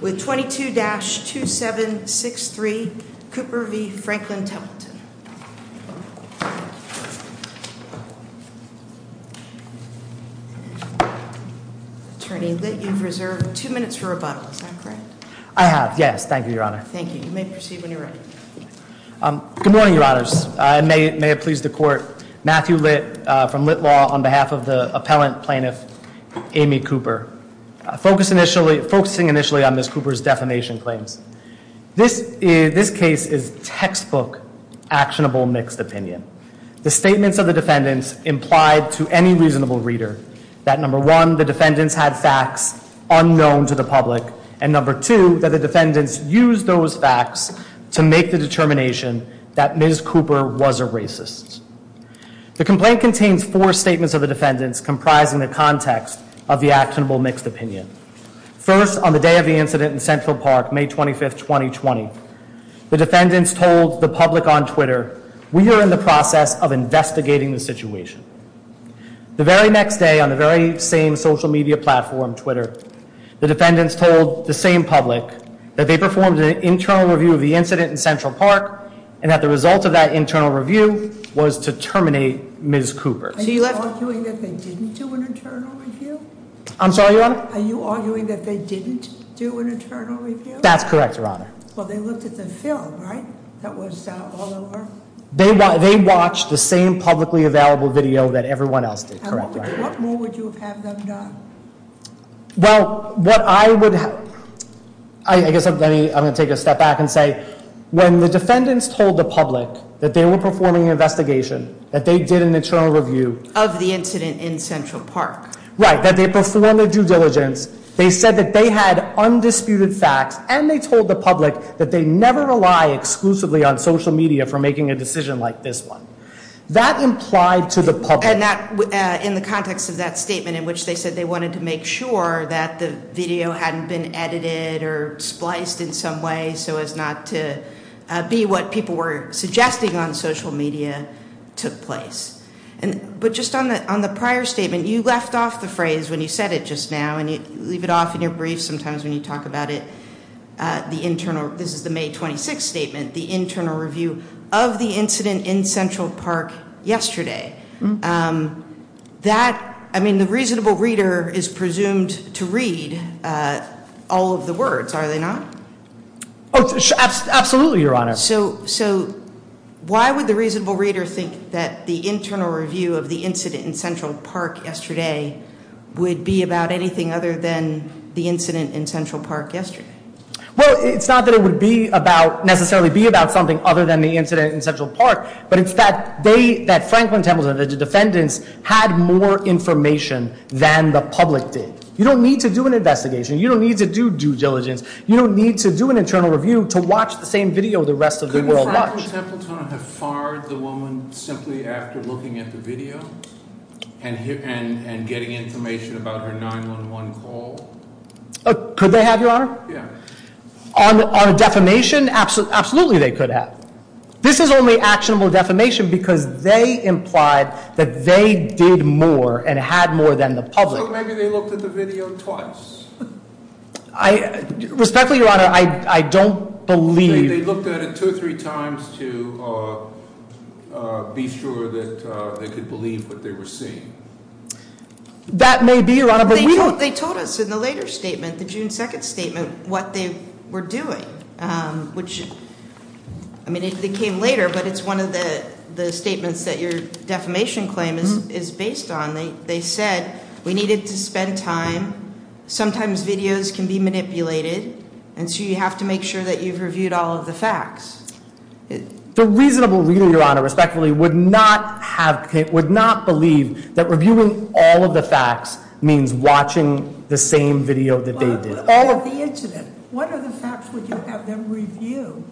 with 22-2763 Cooper v. Franklin Templeton. Attorney Litt, you've reserved two minutes for rebuttal. Is that correct? I have, yes. Thank you, Your Honor. Thank you. You may proceed when you're ready. Good morning, Your Honors. May it please the Court. Matthew Litt from Litt Law on behalf of the appellant plaintiff Amy Cooper. Focusing initially on Ms. Cooper's defamation claims, this case is textbook actionable mixed opinion. The statements of the defendants implied to any reasonable reader that, number one, the defendants had facts unknown to the public, and, number two, that the defendants used those facts to make the determination that Ms. Cooper was a racist. The complaint contains four statements of the defendants comprising the context of the actionable mixed opinion. First, on the day of the incident in Central Park, May 25, 2020, the defendants told the public on Twitter, we are in the process of investigating the situation. The very next day, on the very same social media platform, Twitter, the defendants told the same public that they performed an internal review of the incident in Central Park and that the result of that internal review was to terminate Ms. Cooper. Are you arguing that they didn't do an internal review? I'm sorry, Your Honor? Are you arguing that they didn't do an internal review? That's correct, Your Honor. Well, they looked at the film, right? That was all there was? They watched the same publicly available video that everyone else did. What more would you have had them done? Well, what I would have... I guess I'm going to take a step back and say when the defendants told the public that they were performing an investigation, that they did an internal review... Of the incident in Central Park. Right, that they performed their due diligence, they said that they had undisputed facts, and they told the public that they never rely exclusively on social media for making a decision like this one. That implied to the public... In the context of that statement in which they said they wanted to make sure that the video hadn't been edited or spliced in some way so as not to be what people were suggesting on social media took place. But just on the prior statement, you left off the phrase when you said it just now, and you leave it off in your brief sometimes when you talk about it, the internal... This is the May 26th statement, the internal review of the incident in Central Park yesterday. That... I mean, the reasonable reader is presumed to read all of the words, are they not? Absolutely, Your Honor. So why would the reasonable reader think that the internal review of the incident in Central Park yesterday would be about anything other than the incident in Central Park yesterday? Well, it's not that it would be about, necessarily be about something other than the incident in Central Park, but it's that they, that Franklin Templeton, the defendants, had more information than the public did. You don't need to do an investigation. You don't need to do due diligence. You don't need to do an internal review to watch the same video the rest of the world watched. Could Franklin Templeton have fired the woman simply after looking at the video and getting information about her 911 call? Could they have, Your Honor? Yeah. On defamation, absolutely they could have. This is only actionable defamation because they implied that they did more and had more than the public. Well, maybe they looked at the video twice. Respectfully, Your Honor, I don't believe- They looked at it two or three times to be sure that they could believe what they were seeing. That may be, Your Honor, but we don't- They told us in the later statement, the June 2nd statement, what they were doing, which, I mean, it came later, but it's one of the statements that your defamation claim is based on. They said, we needed to spend time. Sometimes videos can be manipulated, and so you have to make sure that you've reviewed all of the facts. The reasonable reader, Your Honor, respectfully, would not believe that reviewing all of the facts means watching the same video that they did. What about the incident? What other facts would you have them review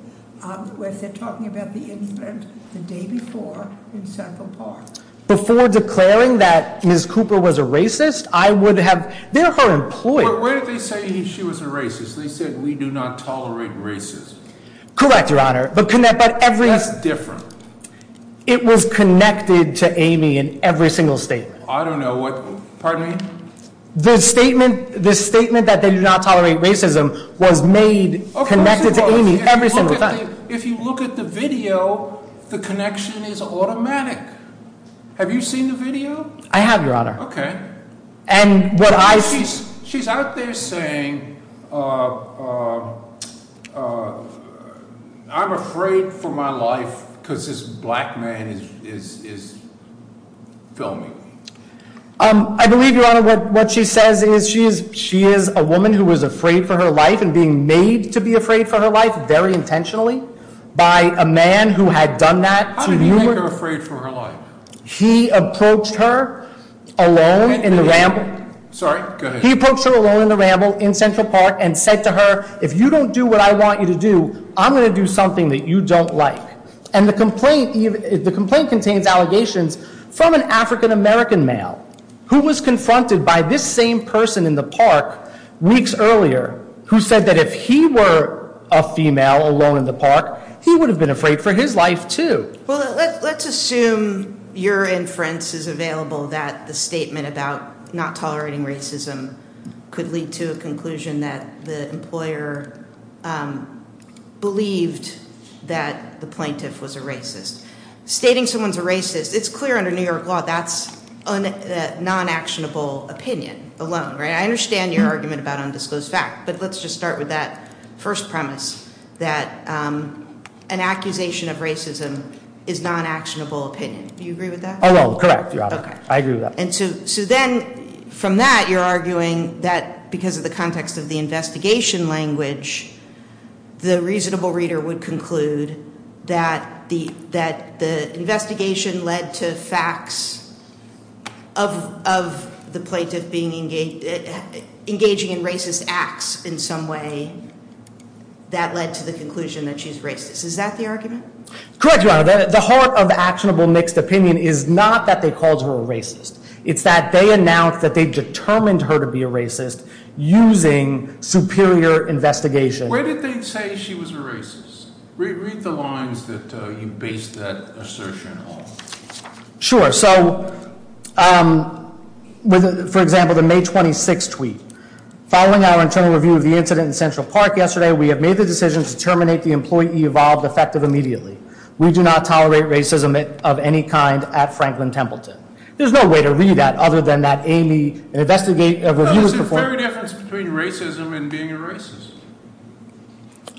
if they're talking about the incident the day before in Central Park? Before declaring that Ms. Cooper was a racist, I would have- They're her employees. But where did they say she was a racist? They said, we do not tolerate racism. Correct, Your Honor, but every- That's different. It was connected to Amy in every single statement. I don't know what- Pardon me? The statement that they do not tolerate racism was made connected to Amy every single time. If you look at the video, the connection is automatic. Have you seen the video? I have, Your Honor. Okay. And what I- She's out there saying, I'm afraid for my life because this black man is filming me. I believe, Your Honor, what she says is she is a woman who was afraid for her life and being made to be afraid for her life very intentionally by a man who had done that to you. Who made her afraid for her life? He approached her alone in the ramble. Sorry, go ahead. He approached her alone in the ramble in Central Park and said to her, if you don't do what I want you to do, I'm going to do something that you don't like. And the complaint contains allegations from an African-American male who was confronted by this same person in the park weeks earlier who said that if he were a female alone in the park, he would have been afraid for his life, too. Well, let's assume your inference is available that the statement about not tolerating racism could lead to a conclusion that the employer believed that the plaintiff was a racist. Stating someone's a racist, it's clear under New York law that's a non-actionable opinion alone, right? I understand your argument about undisclosed fact, but let's just start with that first premise that an accusation of racism is non-actionable opinion. Do you agree with that? Oh, no, correct, Your Honor. Okay. I agree with that. So then, from that, you're arguing that because of the context of the investigation language, the reasonable reader would conclude that the investigation led to facts of the plaintiff engaging in racist acts in some way that led to the conclusion that she's racist. Is that the argument? Correct, Your Honor. The heart of actionable mixed opinion is not that they called her a racist. It's that they announced that they determined her to be a racist using superior investigation. Where did they say she was a racist? Read the lines that you based that assertion on. Sure. So, for example, the May 26 tweet. Following our internal review of the incident in Central Park yesterday, we have made the decision to terminate the employee evolved effective immediately. We do not tolerate racism of any kind at Franklin Templeton. There's no way to read that other than that Amy, an investigator, a reviewer performed... There's a fair difference between racism and being a racist.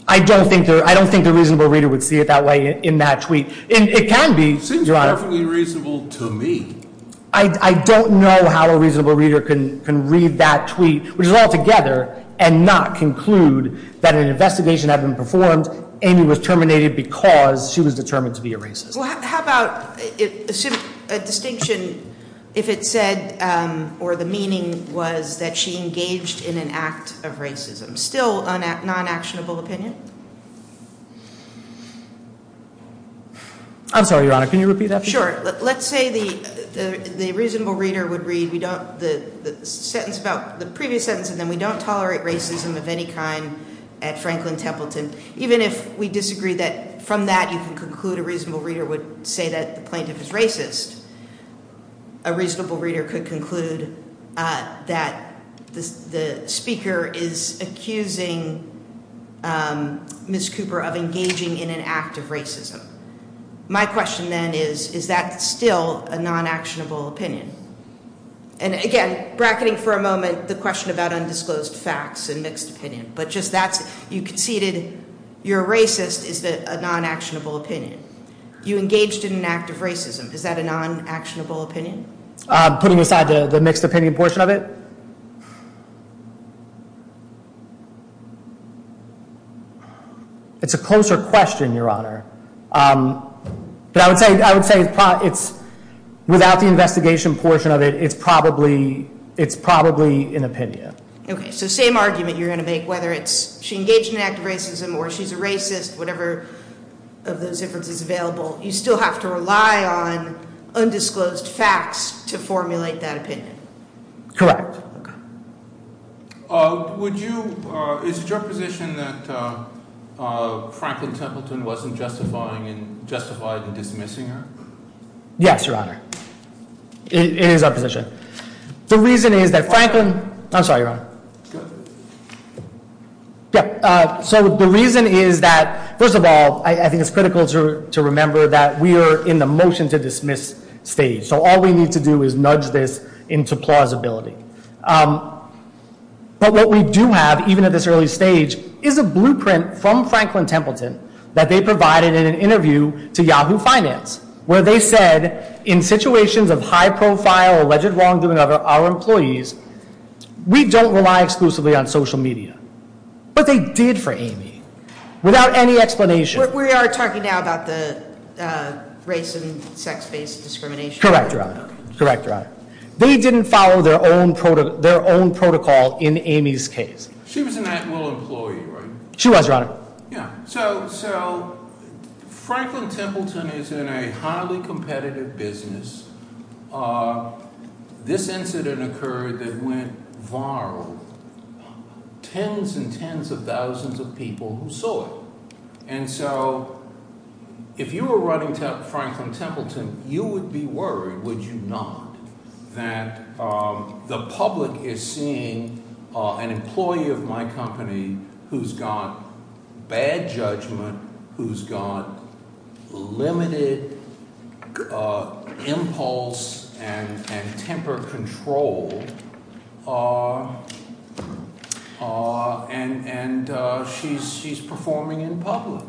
I don't think the reasonable reader would see it that way in that tweet. It can be, Your Honor. It seems perfectly reasonable to me. I don't know how a reasonable reader can read that tweet, which is all together, and not conclude that an investigation had been performed, Amy was terminated because she was determined to be a racist. Well, how about a distinction if it said or the meaning was that she engaged in an act of racism? Still a non-actionable opinion? I'm sorry, Your Honor. Can you repeat that? Sure. Let's say the reasonable reader would read the previous sentence and then we don't tolerate racism of any kind at Franklin Templeton. Even if we disagree that from that you can conclude a reasonable reader would say that the plaintiff is racist, a reasonable reader could conclude that the speaker is accusing Ms. Cooper of engaging in an act of racism. My question then is, is that still a non-actionable opinion? And again, bracketing for a moment the question about undisclosed facts and mixed opinion, but just that you conceded you're a racist, is that a non-actionable opinion? You engaged in an act of racism, is that a non-actionable opinion? Putting aside the mixed opinion portion of it? It's a closer question, Your Honor. But I would say without the investigation portion of it, it's probably an opinion. Okay, so same argument you're going to make, whether it's she engaged in an act of racism or she's a racist, whatever of those differences available, you still have to rely on undisclosed facts to formulate that opinion. Correct. Is it your position that Franklin Templeton wasn't justified in dismissing her? Yes, Your Honor. It is our position. The reason is that Franklin... I'm sorry, Your Honor. So the reason is that, first of all, I think it's critical to remember that we are in the motion to dismiss stage, so all we need to do is nudge this into plausibility. But what we do have, even at this early stage, is a blueprint from Franklin Templeton that they provided in an interview to Yahoo Finance, where they said, in situations of high-profile alleged wrongdoing of our employees, we don't rely exclusively on social media. But they did for Amy, without any explanation. But we are talking now about the race and sex-based discrimination. Correct, Your Honor. They didn't follow their own protocol in Amy's case. She was an admiral employee, right? She was, Your Honor. Yeah. So Franklin Templeton is in a highly competitive business. This incident occurred that went viral. Tens and tens of thousands of people who saw it. And so, if you were running Franklin Templeton, you would be worried, would you not, that the public is seeing an employee of my company who's got bad judgment, who's got limited impulse and temper control, and she's performing in public.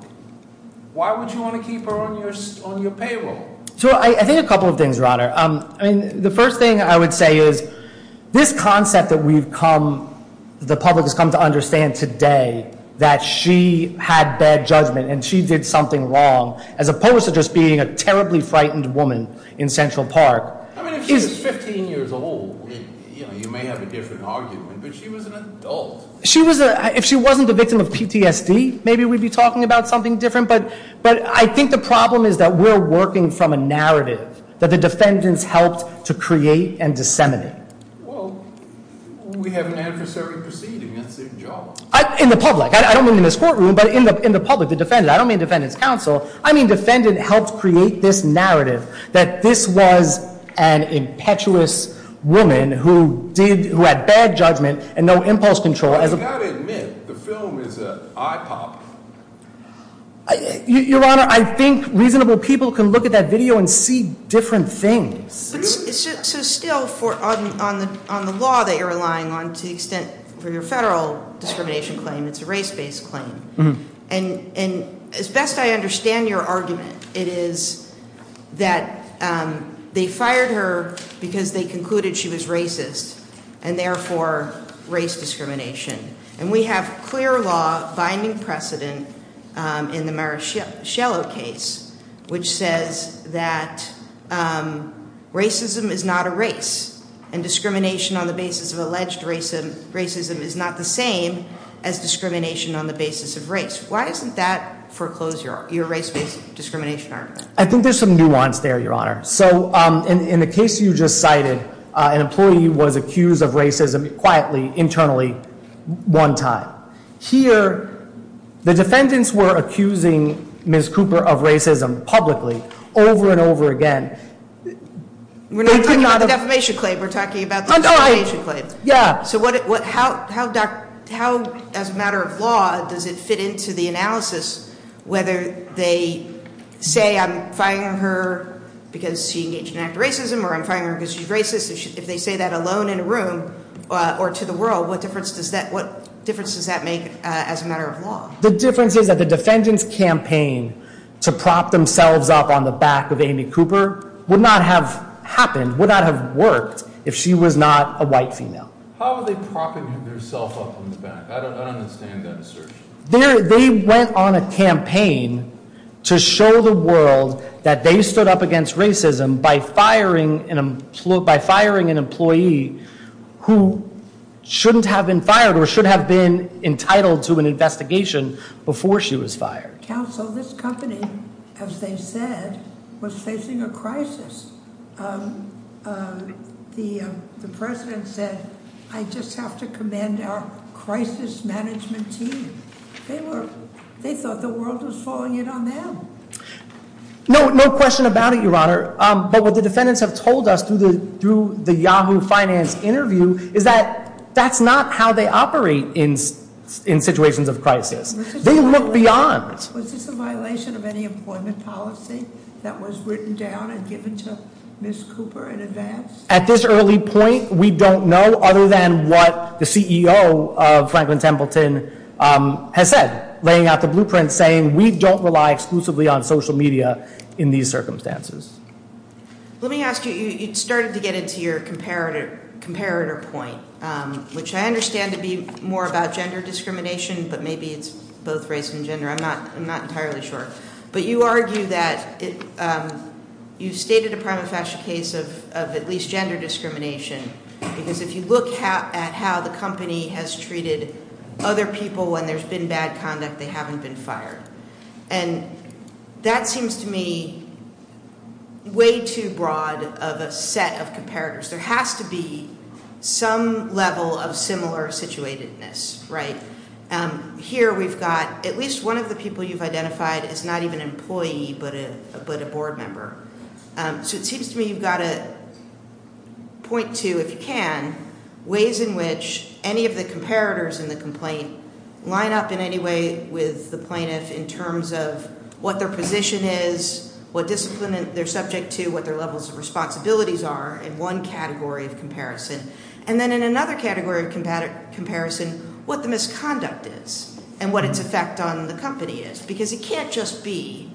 Why would you want to keep her on your payroll? So, I think a couple of things, Your Honor. I mean, the first thing I would say is, this concept that we've come, the public has come to understand today, that she had bad judgment and she did something wrong, as opposed to just being a terribly frightened woman in Central Park. I mean, if she was 15 years old, you may have a different argument, but she was an adult. If she wasn't the victim of PTSD, maybe we'd be talking about something different. But I think the problem is that we're working from a narrative that the defendants helped to create and disseminate. Well, we have an adversary proceeding. That's their job. In the public. I don't mean in this courtroom, but in the public, the defendant. I don't mean defendant's counsel. I mean, defendant helped create this narrative that this was an impetuous woman who had bad judgment and no impulse control. You've got to admit, the film is an eye popper. Your Honor, I think reasonable people can look at that video and see different things. So still, on the law that you're relying on, to the extent for your federal discrimination claim, it's a race-based claim. And as best I understand your argument, it is that they fired her because they concluded she was racist and therefore race discrimination. And we have clear law binding precedent in the Marischello case, which says that racism is not a race and discrimination on the basis of alleged racism is not the same as discrimination on the basis of race. Why isn't that foreclosed, your race-based discrimination argument? I think there's some nuance there, Your Honor. So in the case you just cited, an employee was accused of racism quietly, internally, one time. Here, the defendants were accusing Ms. Cooper of racism publicly over and over again. We're not talking about the defamation claim. We're talking about the discrimination claim. Yeah. So how, as a matter of law, does it fit into the analysis whether they say I'm firing her because she engaged in an act of racism or I'm firing her because she's racist? If they say that alone in a room or to the world, what difference does that make as a matter of law? The difference is that the defendants' campaign to prop themselves up on the back of Amy Cooper would not have happened, would not have worked, if she was not a white female. How are they propping themselves up on the back? I don't understand that assertion. They went on a campaign to show the world that they stood up against racism by firing an employee who shouldn't have been fired or should have been entitled to an investigation before she was fired. Counsel, this company, as they said, was facing a crisis. The president said, I just have to commend our crisis management team. They thought the world was falling in on them. No question about it, Your Honor, but what the defendants have told us through the Yahoo Finance interview is that that's not how they operate in situations of crisis. They look beyond. Was this a violation of any employment policy that was written down and given to Ms. Cooper in advance? At this early point, we don't know other than what the CEO of Franklin Templeton has said, laying out the blueprint saying we don't rely exclusively on social media in these circumstances. Let me ask you, you started to get into your comparator point, which I understand to be more about gender discrimination, but maybe it's both race and gender. I'm not entirely sure. But you argue that you've stated a prima facie case of at least gender discrimination, because if you look at how the company has treated other people and there's been bad conduct, they haven't been fired. And that seems to me way too broad of a set of comparators. There has to be some level of similar situatedness, right? Here we've got at least one of the people you've identified is not even an employee but a board member. So it seems to me you've got to point to, if you can, ways in which any of the comparators in the complaint line up in any way with the plaintiff in terms of what their position is, what discipline they're subject to, what their levels of responsibilities are in one category of comparison. And then in another category of comparison, what the misconduct is and what its effect on the company is. Because it can't just be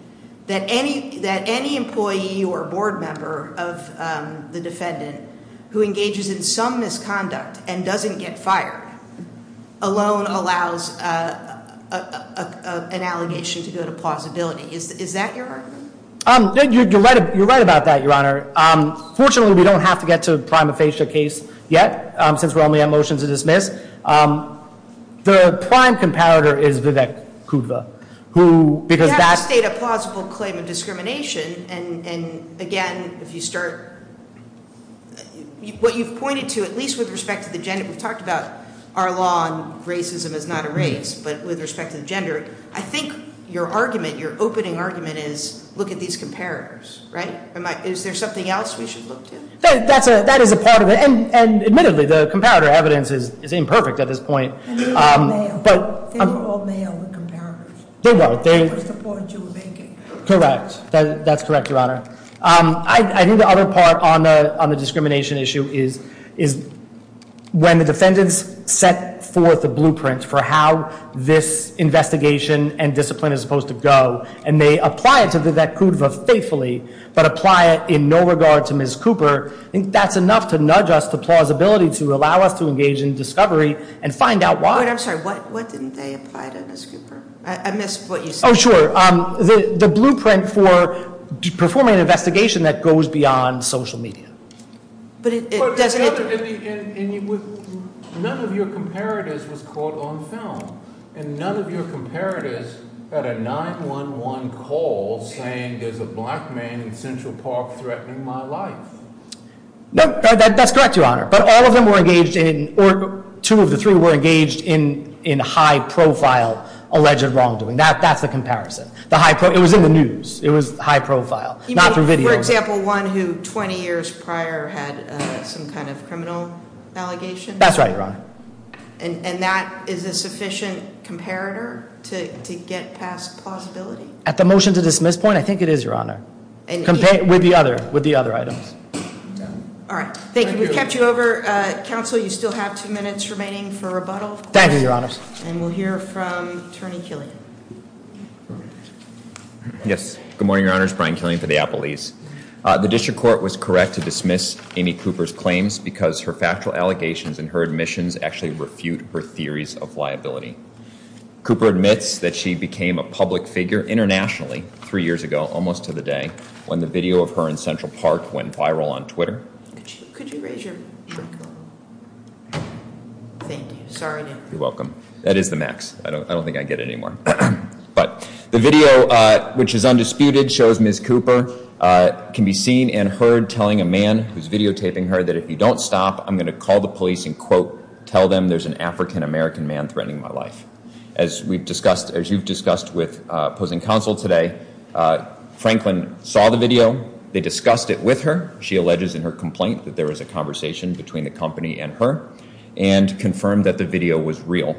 that any employee or board member of the defendant who engages in some misconduct and doesn't get fired alone allows an allegation to go to plausibility. Is that your argument? You're right about that, Your Honor. Fortunately, we don't have to get to a prima facie case yet, since we only have motions to dismiss. The prime comparator is Vivek Kudva. You have to state a plausible claim of discrimination. And again, what you've pointed to, at least with respect to the gender, we've talked about our law on racism as not a race, but with respect to the gender. I think your opening argument is look at these comparators. Is there something else we should look to? That is a part of it. And admittedly, the comparator evidence is imperfect at this point. They were all male. They were all male, the comparators. They were. That was the point you were making. Correct. That's correct, Your Honor. I think the other part on the discrimination issue is when the defendants set forth a blueprint for how this investigation and discipline is supposed to go, and they apply it to Vivek Kudva faithfully but apply it in no regard to Ms. Cooper, I think that's enough to nudge us to plausibility to allow us to engage in discovery and find out why. I'm sorry. I missed what you said. Oh, sure. The blueprint for performing an investigation that goes beyond social media. But it doesn't. None of your comparators was caught on film, and none of your comparators had a 911 call saying there's a black man in Central Park threatening my life. No, that's correct, Your Honor. But all of them were engaged in, or two of the three were engaged in high-profile alleged wrongdoing. That's the comparison. It was in the news. It was high profile. Not through video. You mean, for example, one who 20 years prior had some kind of criminal allegation? That's right, Your Honor. And that is a sufficient comparator to get past plausibility? At the motion to dismiss point, I think it is, Your Honor. With the other items. All right. Thank you. We've kept you over. Counsel, you still have two minutes remaining for rebuttal. Thank you, Your Honor. And we'll hear from Attorney Killian. Yes. Good morning, Your Honor. It's Brian Killian for the Applebee's. The district court was correct to dismiss Amy Cooper's claims because her factual allegations and her admissions actually refute her theories of liability. Cooper admits that she became a public figure internationally three years ago, almost to the day, when the video of her in Central Park went viral on Twitter. Could you raise your mic up? Thank you. Sorry. You're welcome. That is the max. I don't think I get it anymore. But the video, which is undisputed, shows Ms. Cooper can be seen and heard telling a man who's videotaping her that if you don't stop, I'm going to call the police and, quote, tell them there's an African American man threatening my life. As we've discussed, as you've discussed with opposing counsel today, Franklin saw the video. They discussed it with her. She alleges in her complaint that there was a conversation between the company and her and confirmed that the video was real.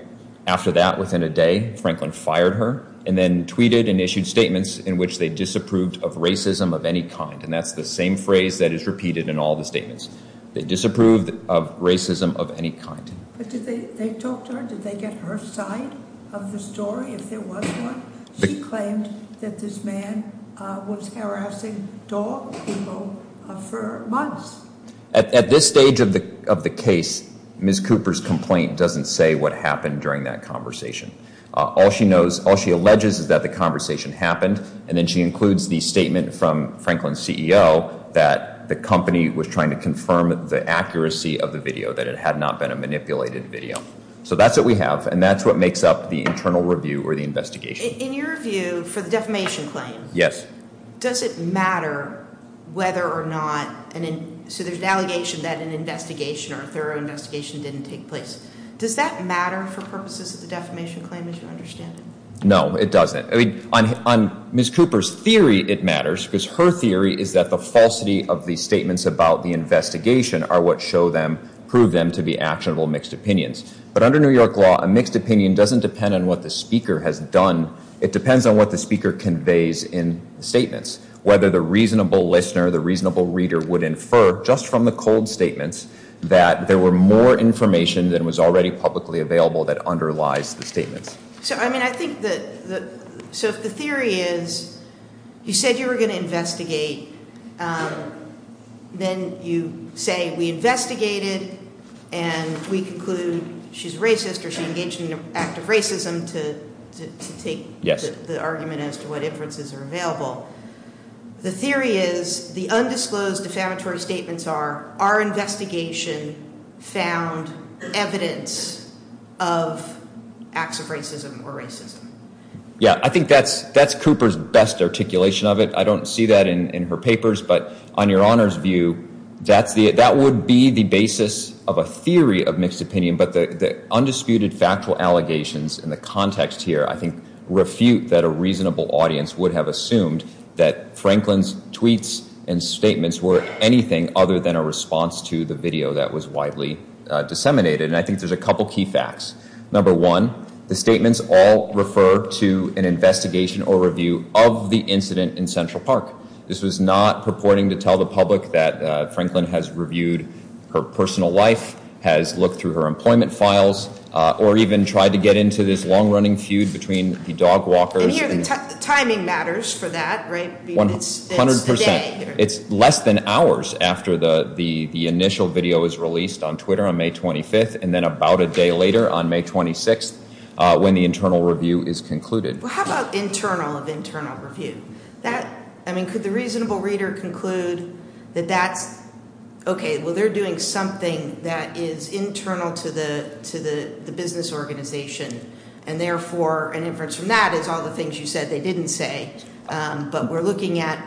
After that, within a day, Franklin fired her and then tweeted and issued statements in which they disapproved of racism of any kind. And that's the same phrase that is repeated in all the statements. They disapproved of racism of any kind. But did they talk to her? Did they get her side of the story if there was one? She claimed that this man was harassing dog people for months. At this stage of the case, Ms. Cooper's complaint doesn't say what happened during that conversation. All she knows, all she alleges is that the conversation happened, and then she includes the statement from Franklin's CEO that the company was trying to confirm the accuracy of the video, that it had not been a manipulated video. So that's what we have, and that's what makes up the internal review or the investigation. In your view, for the defamation claim, does it matter whether or not, so there's an allegation that an investigation or a thorough investigation didn't take place, does that matter for purposes of the defamation claim as you understand it? No, it doesn't. On Ms. Cooper's theory, it matters because her theory is that the falsity of the statements about the investigation are what show them, prove them to be actionable mixed opinions. But under New York law, a mixed opinion doesn't depend on what the speaker has done. It depends on what the speaker conveys in the statements, whether the reasonable listener, the reasonable reader would infer just from the cold statements that there were more information than was already publicly available that underlies the statements. So, I mean, I think the theory is you said you were going to investigate. Then you say we investigated, and we conclude she's racist or she engaged in an act of racism to take the argument as to what inferences are available. The theory is the undisclosed defamatory statements are our investigation found evidence of acts of racism. Yeah, I think that's Cooper's best articulation of it. I don't see that in her papers. But on your Honor's view, that would be the basis of a theory of mixed opinion. But the undisputed factual allegations in the context here, I think, refute that a reasonable audience would have assumed that Franklin's tweets and statements were anything other than a response to the video that was widely disseminated. And I think there's a couple key facts. Number one, the statements all refer to an investigation or review of the incident in Central Park. This was not purporting to tell the public that Franklin has reviewed her personal life, has looked through her employment files, or even tried to get into this long-running feud between the dog walkers. And here the timing matters for that, right? 100 percent. It's less than hours after the initial video was released on Twitter on May 25th, and then about a day later on May 26th when the internal review is concluded. Well, how about internal of internal review? I mean, could the reasonable reader conclude that that's, okay, well, they're doing something that is internal to the business organization, and therefore an inference from that is all the things you said they didn't say, but we're looking at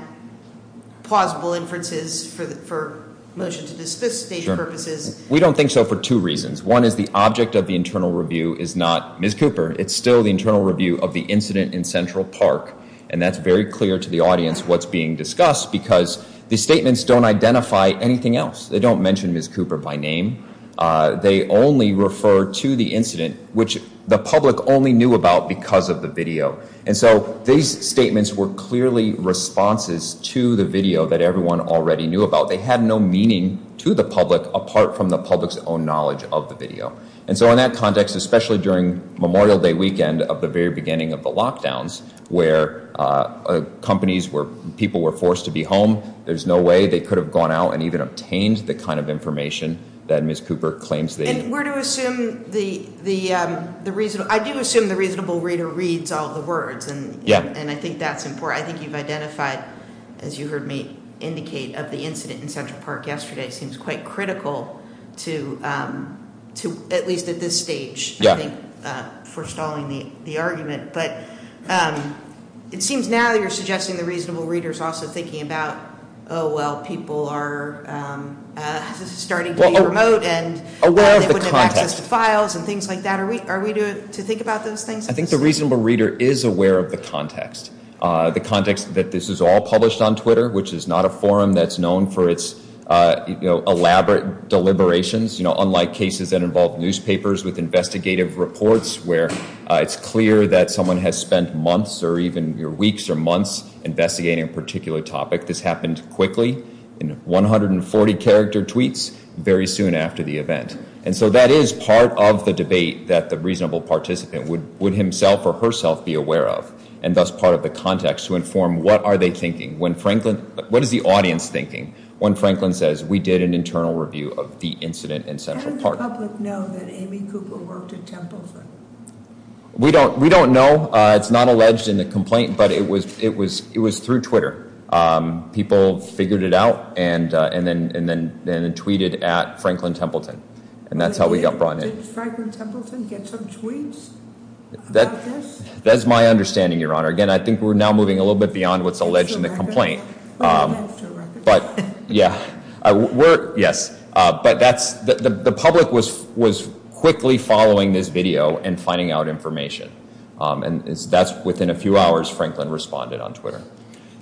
plausible inferences for motion to dispensate purposes. We don't think so for two reasons. One is the object of the internal review is not Ms. Cooper. It's still the internal review of the incident in Central Park, and that's very clear to the audience what's being discussed because the statements don't identify anything else. They don't mention Ms. Cooper by name. They only refer to the incident, which the public only knew about because of the video. And so these statements were clearly responses to the video that everyone already knew about. They had no meaning to the public apart from the public's own knowledge of the video. And so in that context, especially during Memorial Day weekend of the very beginning of the lockdowns where companies were, people were forced to be home, there's no way they could have gone out and even obtained the kind of information that Ms. Cooper claims they- And we're to assume the reasonable, I do assume the reasonable reader reads all the words, and I think that's important. I think you've identified, as you heard me indicate, of the incident in Central Park yesterday. It seems quite critical to, at least at this stage, I think, for stalling the argument. But it seems now that you're suggesting the reasonable reader is also thinking about, oh, well, people are starting to be remote and they wouldn't have access to files and things like that. Are we to think about those things? I think the reasonable reader is aware of the context. The context that this is all published on Twitter, which is not a forum that's known for its elaborate deliberations, unlike cases that involve newspapers with investigative reports where it's clear that someone has spent months or even weeks or months investigating a particular topic. This happened quickly in 140 character tweets very soon after the event. And so that is part of the debate that the reasonable participant would himself or herself be aware of and thus part of the context to inform what are they thinking, what is the audience thinking, when Franklin says we did an internal review of the incident in Central Park. How did the public know that Amy Cooper worked at Templeton? We don't know. It's not alleged in the complaint, but it was through Twitter. People figured it out and then tweeted at Franklin Templeton, and that's how we got brought in. Did Franklin Templeton get some tweets about this? That's my understanding, Your Honor. Again, I think we're now moving a little bit beyond what's alleged in the complaint. But, yeah, yes. But the public was quickly following this video and finding out information. And that's within a few hours Franklin responded on Twitter.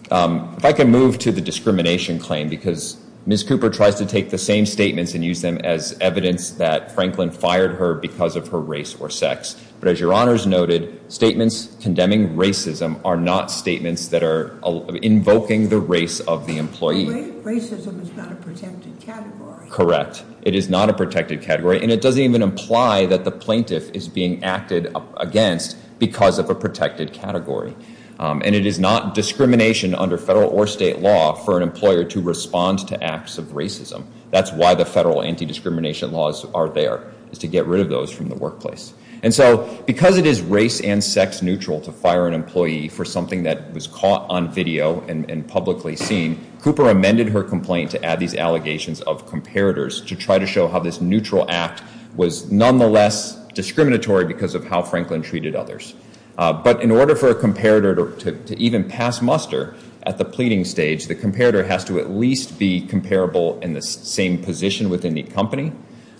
If I can move to the discrimination claim, because Ms. Cooper tries to take the same statements and use them as evidence that Franklin fired her because of her race or sex. But as Your Honor's noted, statements condemning racism are not statements that are invoking the race of the employee. Racism is not a protected category. Correct. It is not a protected category, and it doesn't even imply that the plaintiff is being acted against because of a protected category. And it is not discrimination under federal or state law for an employer to respond to acts of racism. That's why the federal anti-discrimination laws are there, is to get rid of those from the workplace. And so because it is race and sex neutral to fire an employee for something that was caught on video and publicly seen, Cooper amended her complaint to add these allegations of comparators to try to show how this neutral act was nonetheless discriminatory because of how Franklin treated others. But in order for a comparator to even pass muster at the pleading stage, the comparator has to at least be comparable in the same position within the company,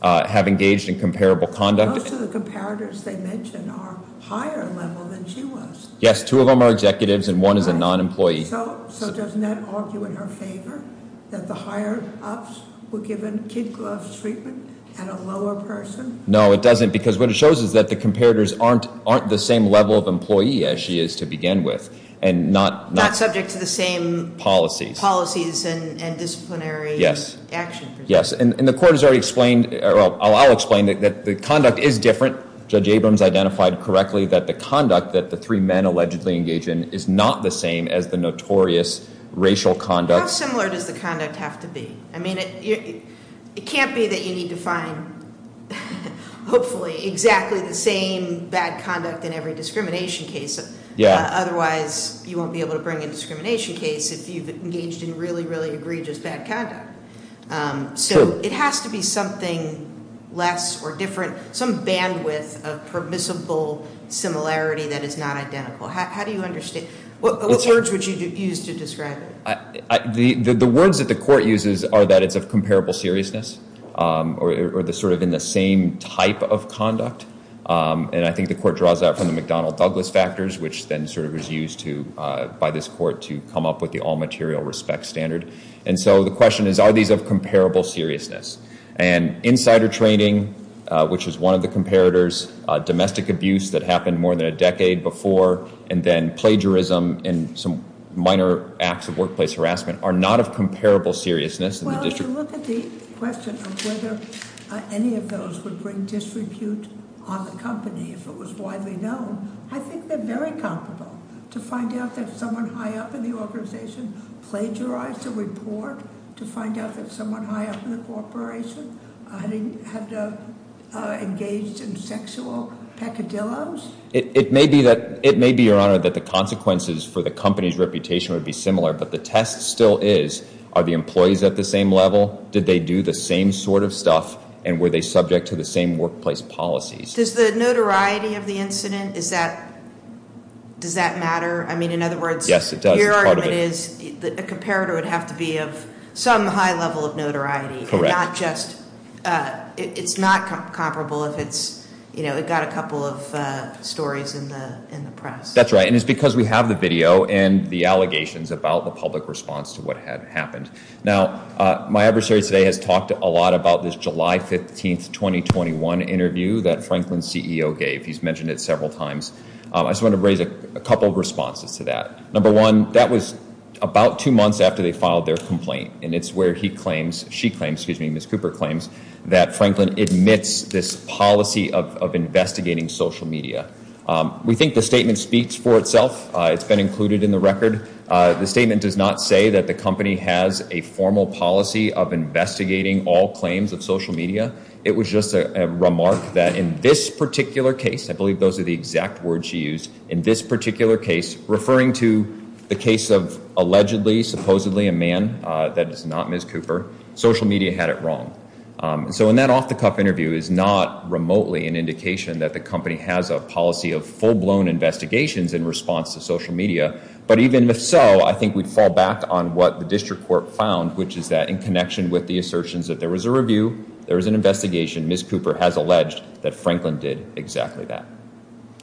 have engaged in comparable conduct. Most of the comparators they mention are higher level than she was. Yes, two of them are executives and one is a non-employee. So doesn't that argue in her favor that the higher ups were given kid gloves treatment and a lower person? No, it doesn't because what it shows is that the comparators aren't the same level of employee as she is to begin with. Not subject to the same policies and disciplinary action. Yes, and the court has already explained, or I'll explain, that the conduct is different. Judge Abrams identified correctly that the conduct that the three men allegedly engage in is not the same as the notorious racial conduct. How similar does the conduct have to be? I mean, it can't be that you need to find, hopefully, exactly the same bad conduct in every discrimination case. Otherwise, you won't be able to bring a discrimination case if you've engaged in really, really egregious bad conduct. So it has to be something less or different, some bandwidth of permissible similarity that is not identical. How do you understand? What words would you use to describe it? The words that the court uses are that it's of comparable seriousness or sort of in the same type of conduct. And I think the court draws that from the McDonnell Douglas factors, which then sort of was used by this court to come up with the all material respect standard. And so the question is, are these of comparable seriousness? And insider training, which is one of the comparators, domestic abuse that happened more than a decade before, and then plagiarism and some minor acts of workplace harassment are not of comparable seriousness. Well, if you look at the question of whether any of those would bring disrepute on the company, if it was widely known, I think they're very comparable. To find out that someone high up in the organization plagiarized a report, to find out that someone high up in the corporation had engaged in sexual peccadilloes. It may be, Your Honor, that the consequences for the company's reputation would be similar, but the test still is, are the employees at the same level? Did they do the same sort of stuff? And were they subject to the same workplace policies? Does the notoriety of the incident, does that matter? I mean, in other words, your argument is that a comparator would have to be of some high level of notoriety. Correct. And not just, it's not comparable if it's, you know, it got a couple of stories in the press. That's right, and it's because we have the video and the allegations about the public response to what had happened. Now, my adversary today has talked a lot about this July 15th, 2021 interview that Franklin's CEO gave. He's mentioned it several times. I just want to raise a couple of responses to that. Number one, that was about two months after they filed their complaint, and it's where he claims, she claims, excuse me, Ms. Cooper claims, that Franklin admits this policy of investigating social media. We think the statement speaks for itself. It's been included in the record. The statement does not say that the company has a formal policy of investigating all claims of social media. It was just a remark that in this particular case, I believe those are the exact words she used, in this particular case, referring to the case of allegedly, supposedly a man, that is not Ms. Cooper, social media had it wrong. So in that off-the-cuff interview is not remotely an indication that the company has a policy of full-blown investigations in response to social media, but even if so, I think we'd fall back on what the district court found, which is that in connection with the assertions that there was a review, there was an investigation, Ms. Cooper has alleged that Franklin did exactly that.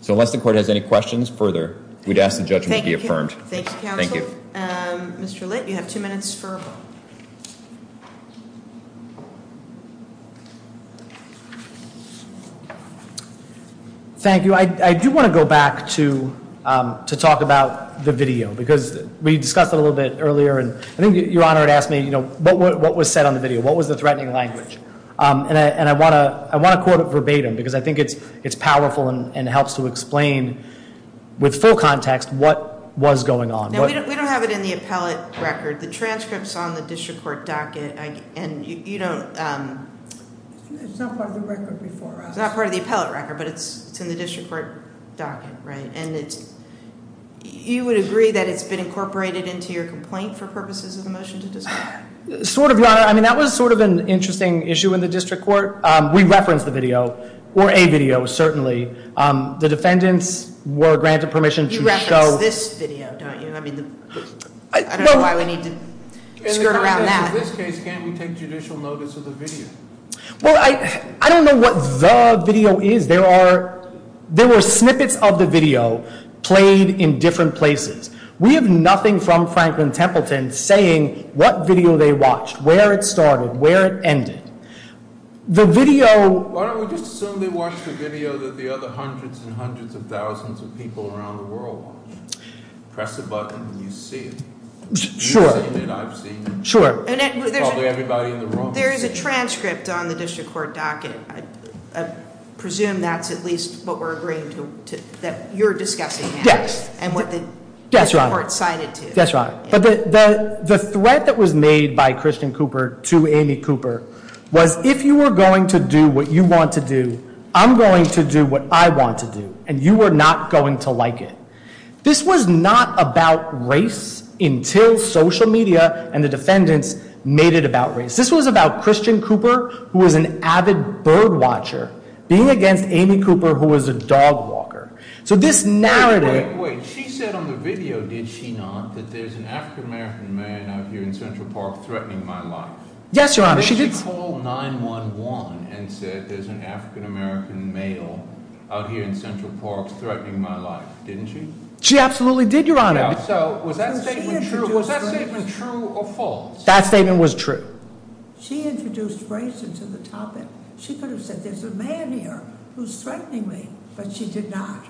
So unless the court has any questions further, we'd ask the judgment to be affirmed. Thank you, counsel. Thank you. Thank you. I do want to go back to talk about the video, because we discussed it a little bit earlier, and I think Your Honor had asked me what was said on the video, what was the threatening language. And I want to quote it verbatim, because I think it's powerful and helps to explain with full context what was going on. No, we don't have it in the appellate record. The transcript's on the district court docket, and you don't ‑‑ It's not part of the record before us. It's not part of the appellate record, but it's in the district court docket, right? And you would agree that it's been incorporated into your complaint for purposes of the motion to dissolve? Sort of, Your Honor. I mean, that was sort of an interesting issue in the district court. We referenced the video, or a video, certainly. The defendants were granted permission to show ‑‑ You referenced this video, don't you? I don't know why we need to skirt around that. In this case, can't we take judicial notice of the video? Well, I don't know what the video is. There were snippets of the video played in different places. We have nothing from Franklin Templeton saying what video they watched, where it started, where it ended. The video ‑‑ Why don't we just assume they watched the video that the other hundreds and hundreds of thousands of people around the world watched? Press a button and you see it. Sure. You've seen it, I've seen it. Sure. Probably everybody in the room has seen it. There is a transcript on the district court docket. I presume that's at least what we're agreeing to, that you're discussing. Yes. And what the district court signed it to. Yes, Your Honor. But the threat that was made by Christian Cooper to Amy Cooper was, if you were going to do what you want to do, I'm going to do what I want to do. And you are not going to like it. This was not about race until social media and the defendants made it about race. This was about Christian Cooper, who was an avid bird watcher, being against Amy Cooper, who was a dog walker. So this narrative ‑‑ Wait, wait, wait. She said on the video, did she not, that there's an African American man out here in Central Park threatening my life. Yes, Your Honor, she did. She called 911 and said there's an African American male out here in Central Park threatening my life, didn't she? She absolutely did, Your Honor. So was that statement true or false? That statement was true. She introduced race into the topic. She could have said there's a man here who's threatening me, but she did not.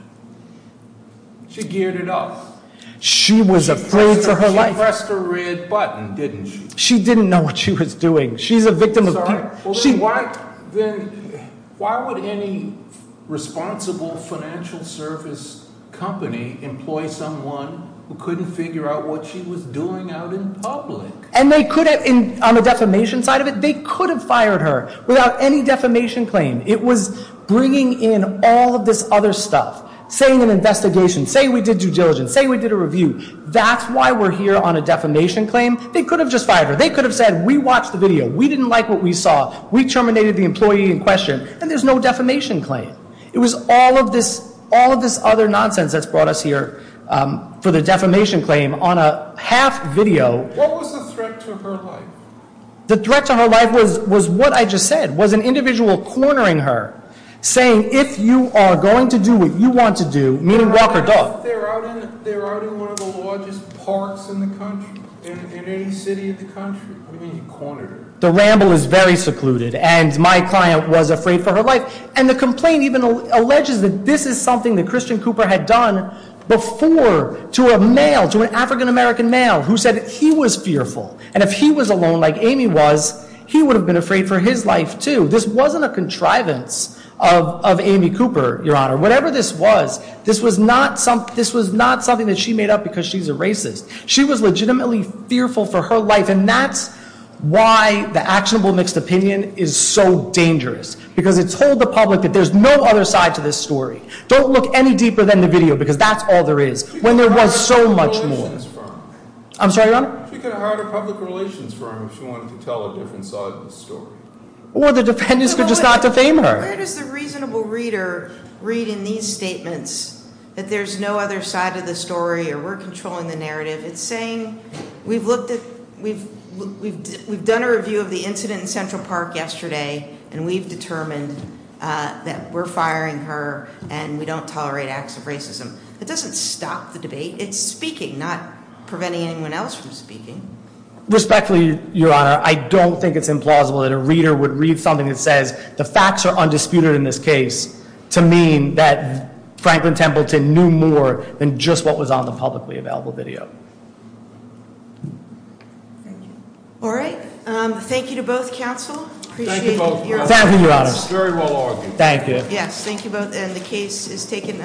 She geared it up. She was afraid for her life. She pressed the red button, didn't she? She didn't know what she was doing. She's a victim of ‑‑ Then why would any responsible financial service company employ someone who couldn't figure out what she was doing out in public? And they could have, on the defamation side of it, they could have fired her without any defamation claim. It was bringing in all of this other stuff, saying an investigation, say we did due diligence, say we did a review. That's why we're here on a defamation claim. They could have just fired her. They could have said we watched the video. We didn't like what we saw. We terminated the employee in question. And there's no defamation claim. It was all of this other nonsense that's brought us here for the defamation claim on a half video. What was the threat to her life? The threat to her life was what I just said, was an individual cornering her, saying if you are going to do what you want to do, meaning walk or dog. But they're out in one of the largest parks in the country, in any city in the country. What do you mean you cornered her? The ramble is very secluded. And my client was afraid for her life. And the complaint even alleges that this is something that Christian Cooper had done before to a male, to an African‑American male who said he was fearful. And if he was alone like Amy was, he would have been afraid for his life, too. Whatever this was, this was not something that she made up because she's a racist. She was legitimately fearful for her life, and that's why the actionable mixed opinion is so dangerous. Because it told the public that there's no other side to this story. Don't look any deeper than the video, because that's all there is. When there was so much more. I'm sorry, Your Honor? She could have hired a public relations firm if she wanted to tell a different side of the story. Or the defendants could just not defame her. Where does the reasonable reader read in these statements that there's no other side of the story or we're controlling the narrative? It's saying we've looked at ‑‑ we've done a review of the incident in Central Park yesterday, and we've determined that we're firing her and we don't tolerate acts of racism. It doesn't stop the debate. It's speaking, not preventing anyone else from speaking. Respectfully, Your Honor, I don't think it's implausible that a reader would read something that says the facts are undisputed in this case to mean that Franklin Templeton knew more than just what was on the publicly available video. Thank you. All right. Thank you to both counsel. Thank you both. Thank you, Your Honor. Very well argued. Thank you. Yes, thank you both, and the case is taken under ‑‑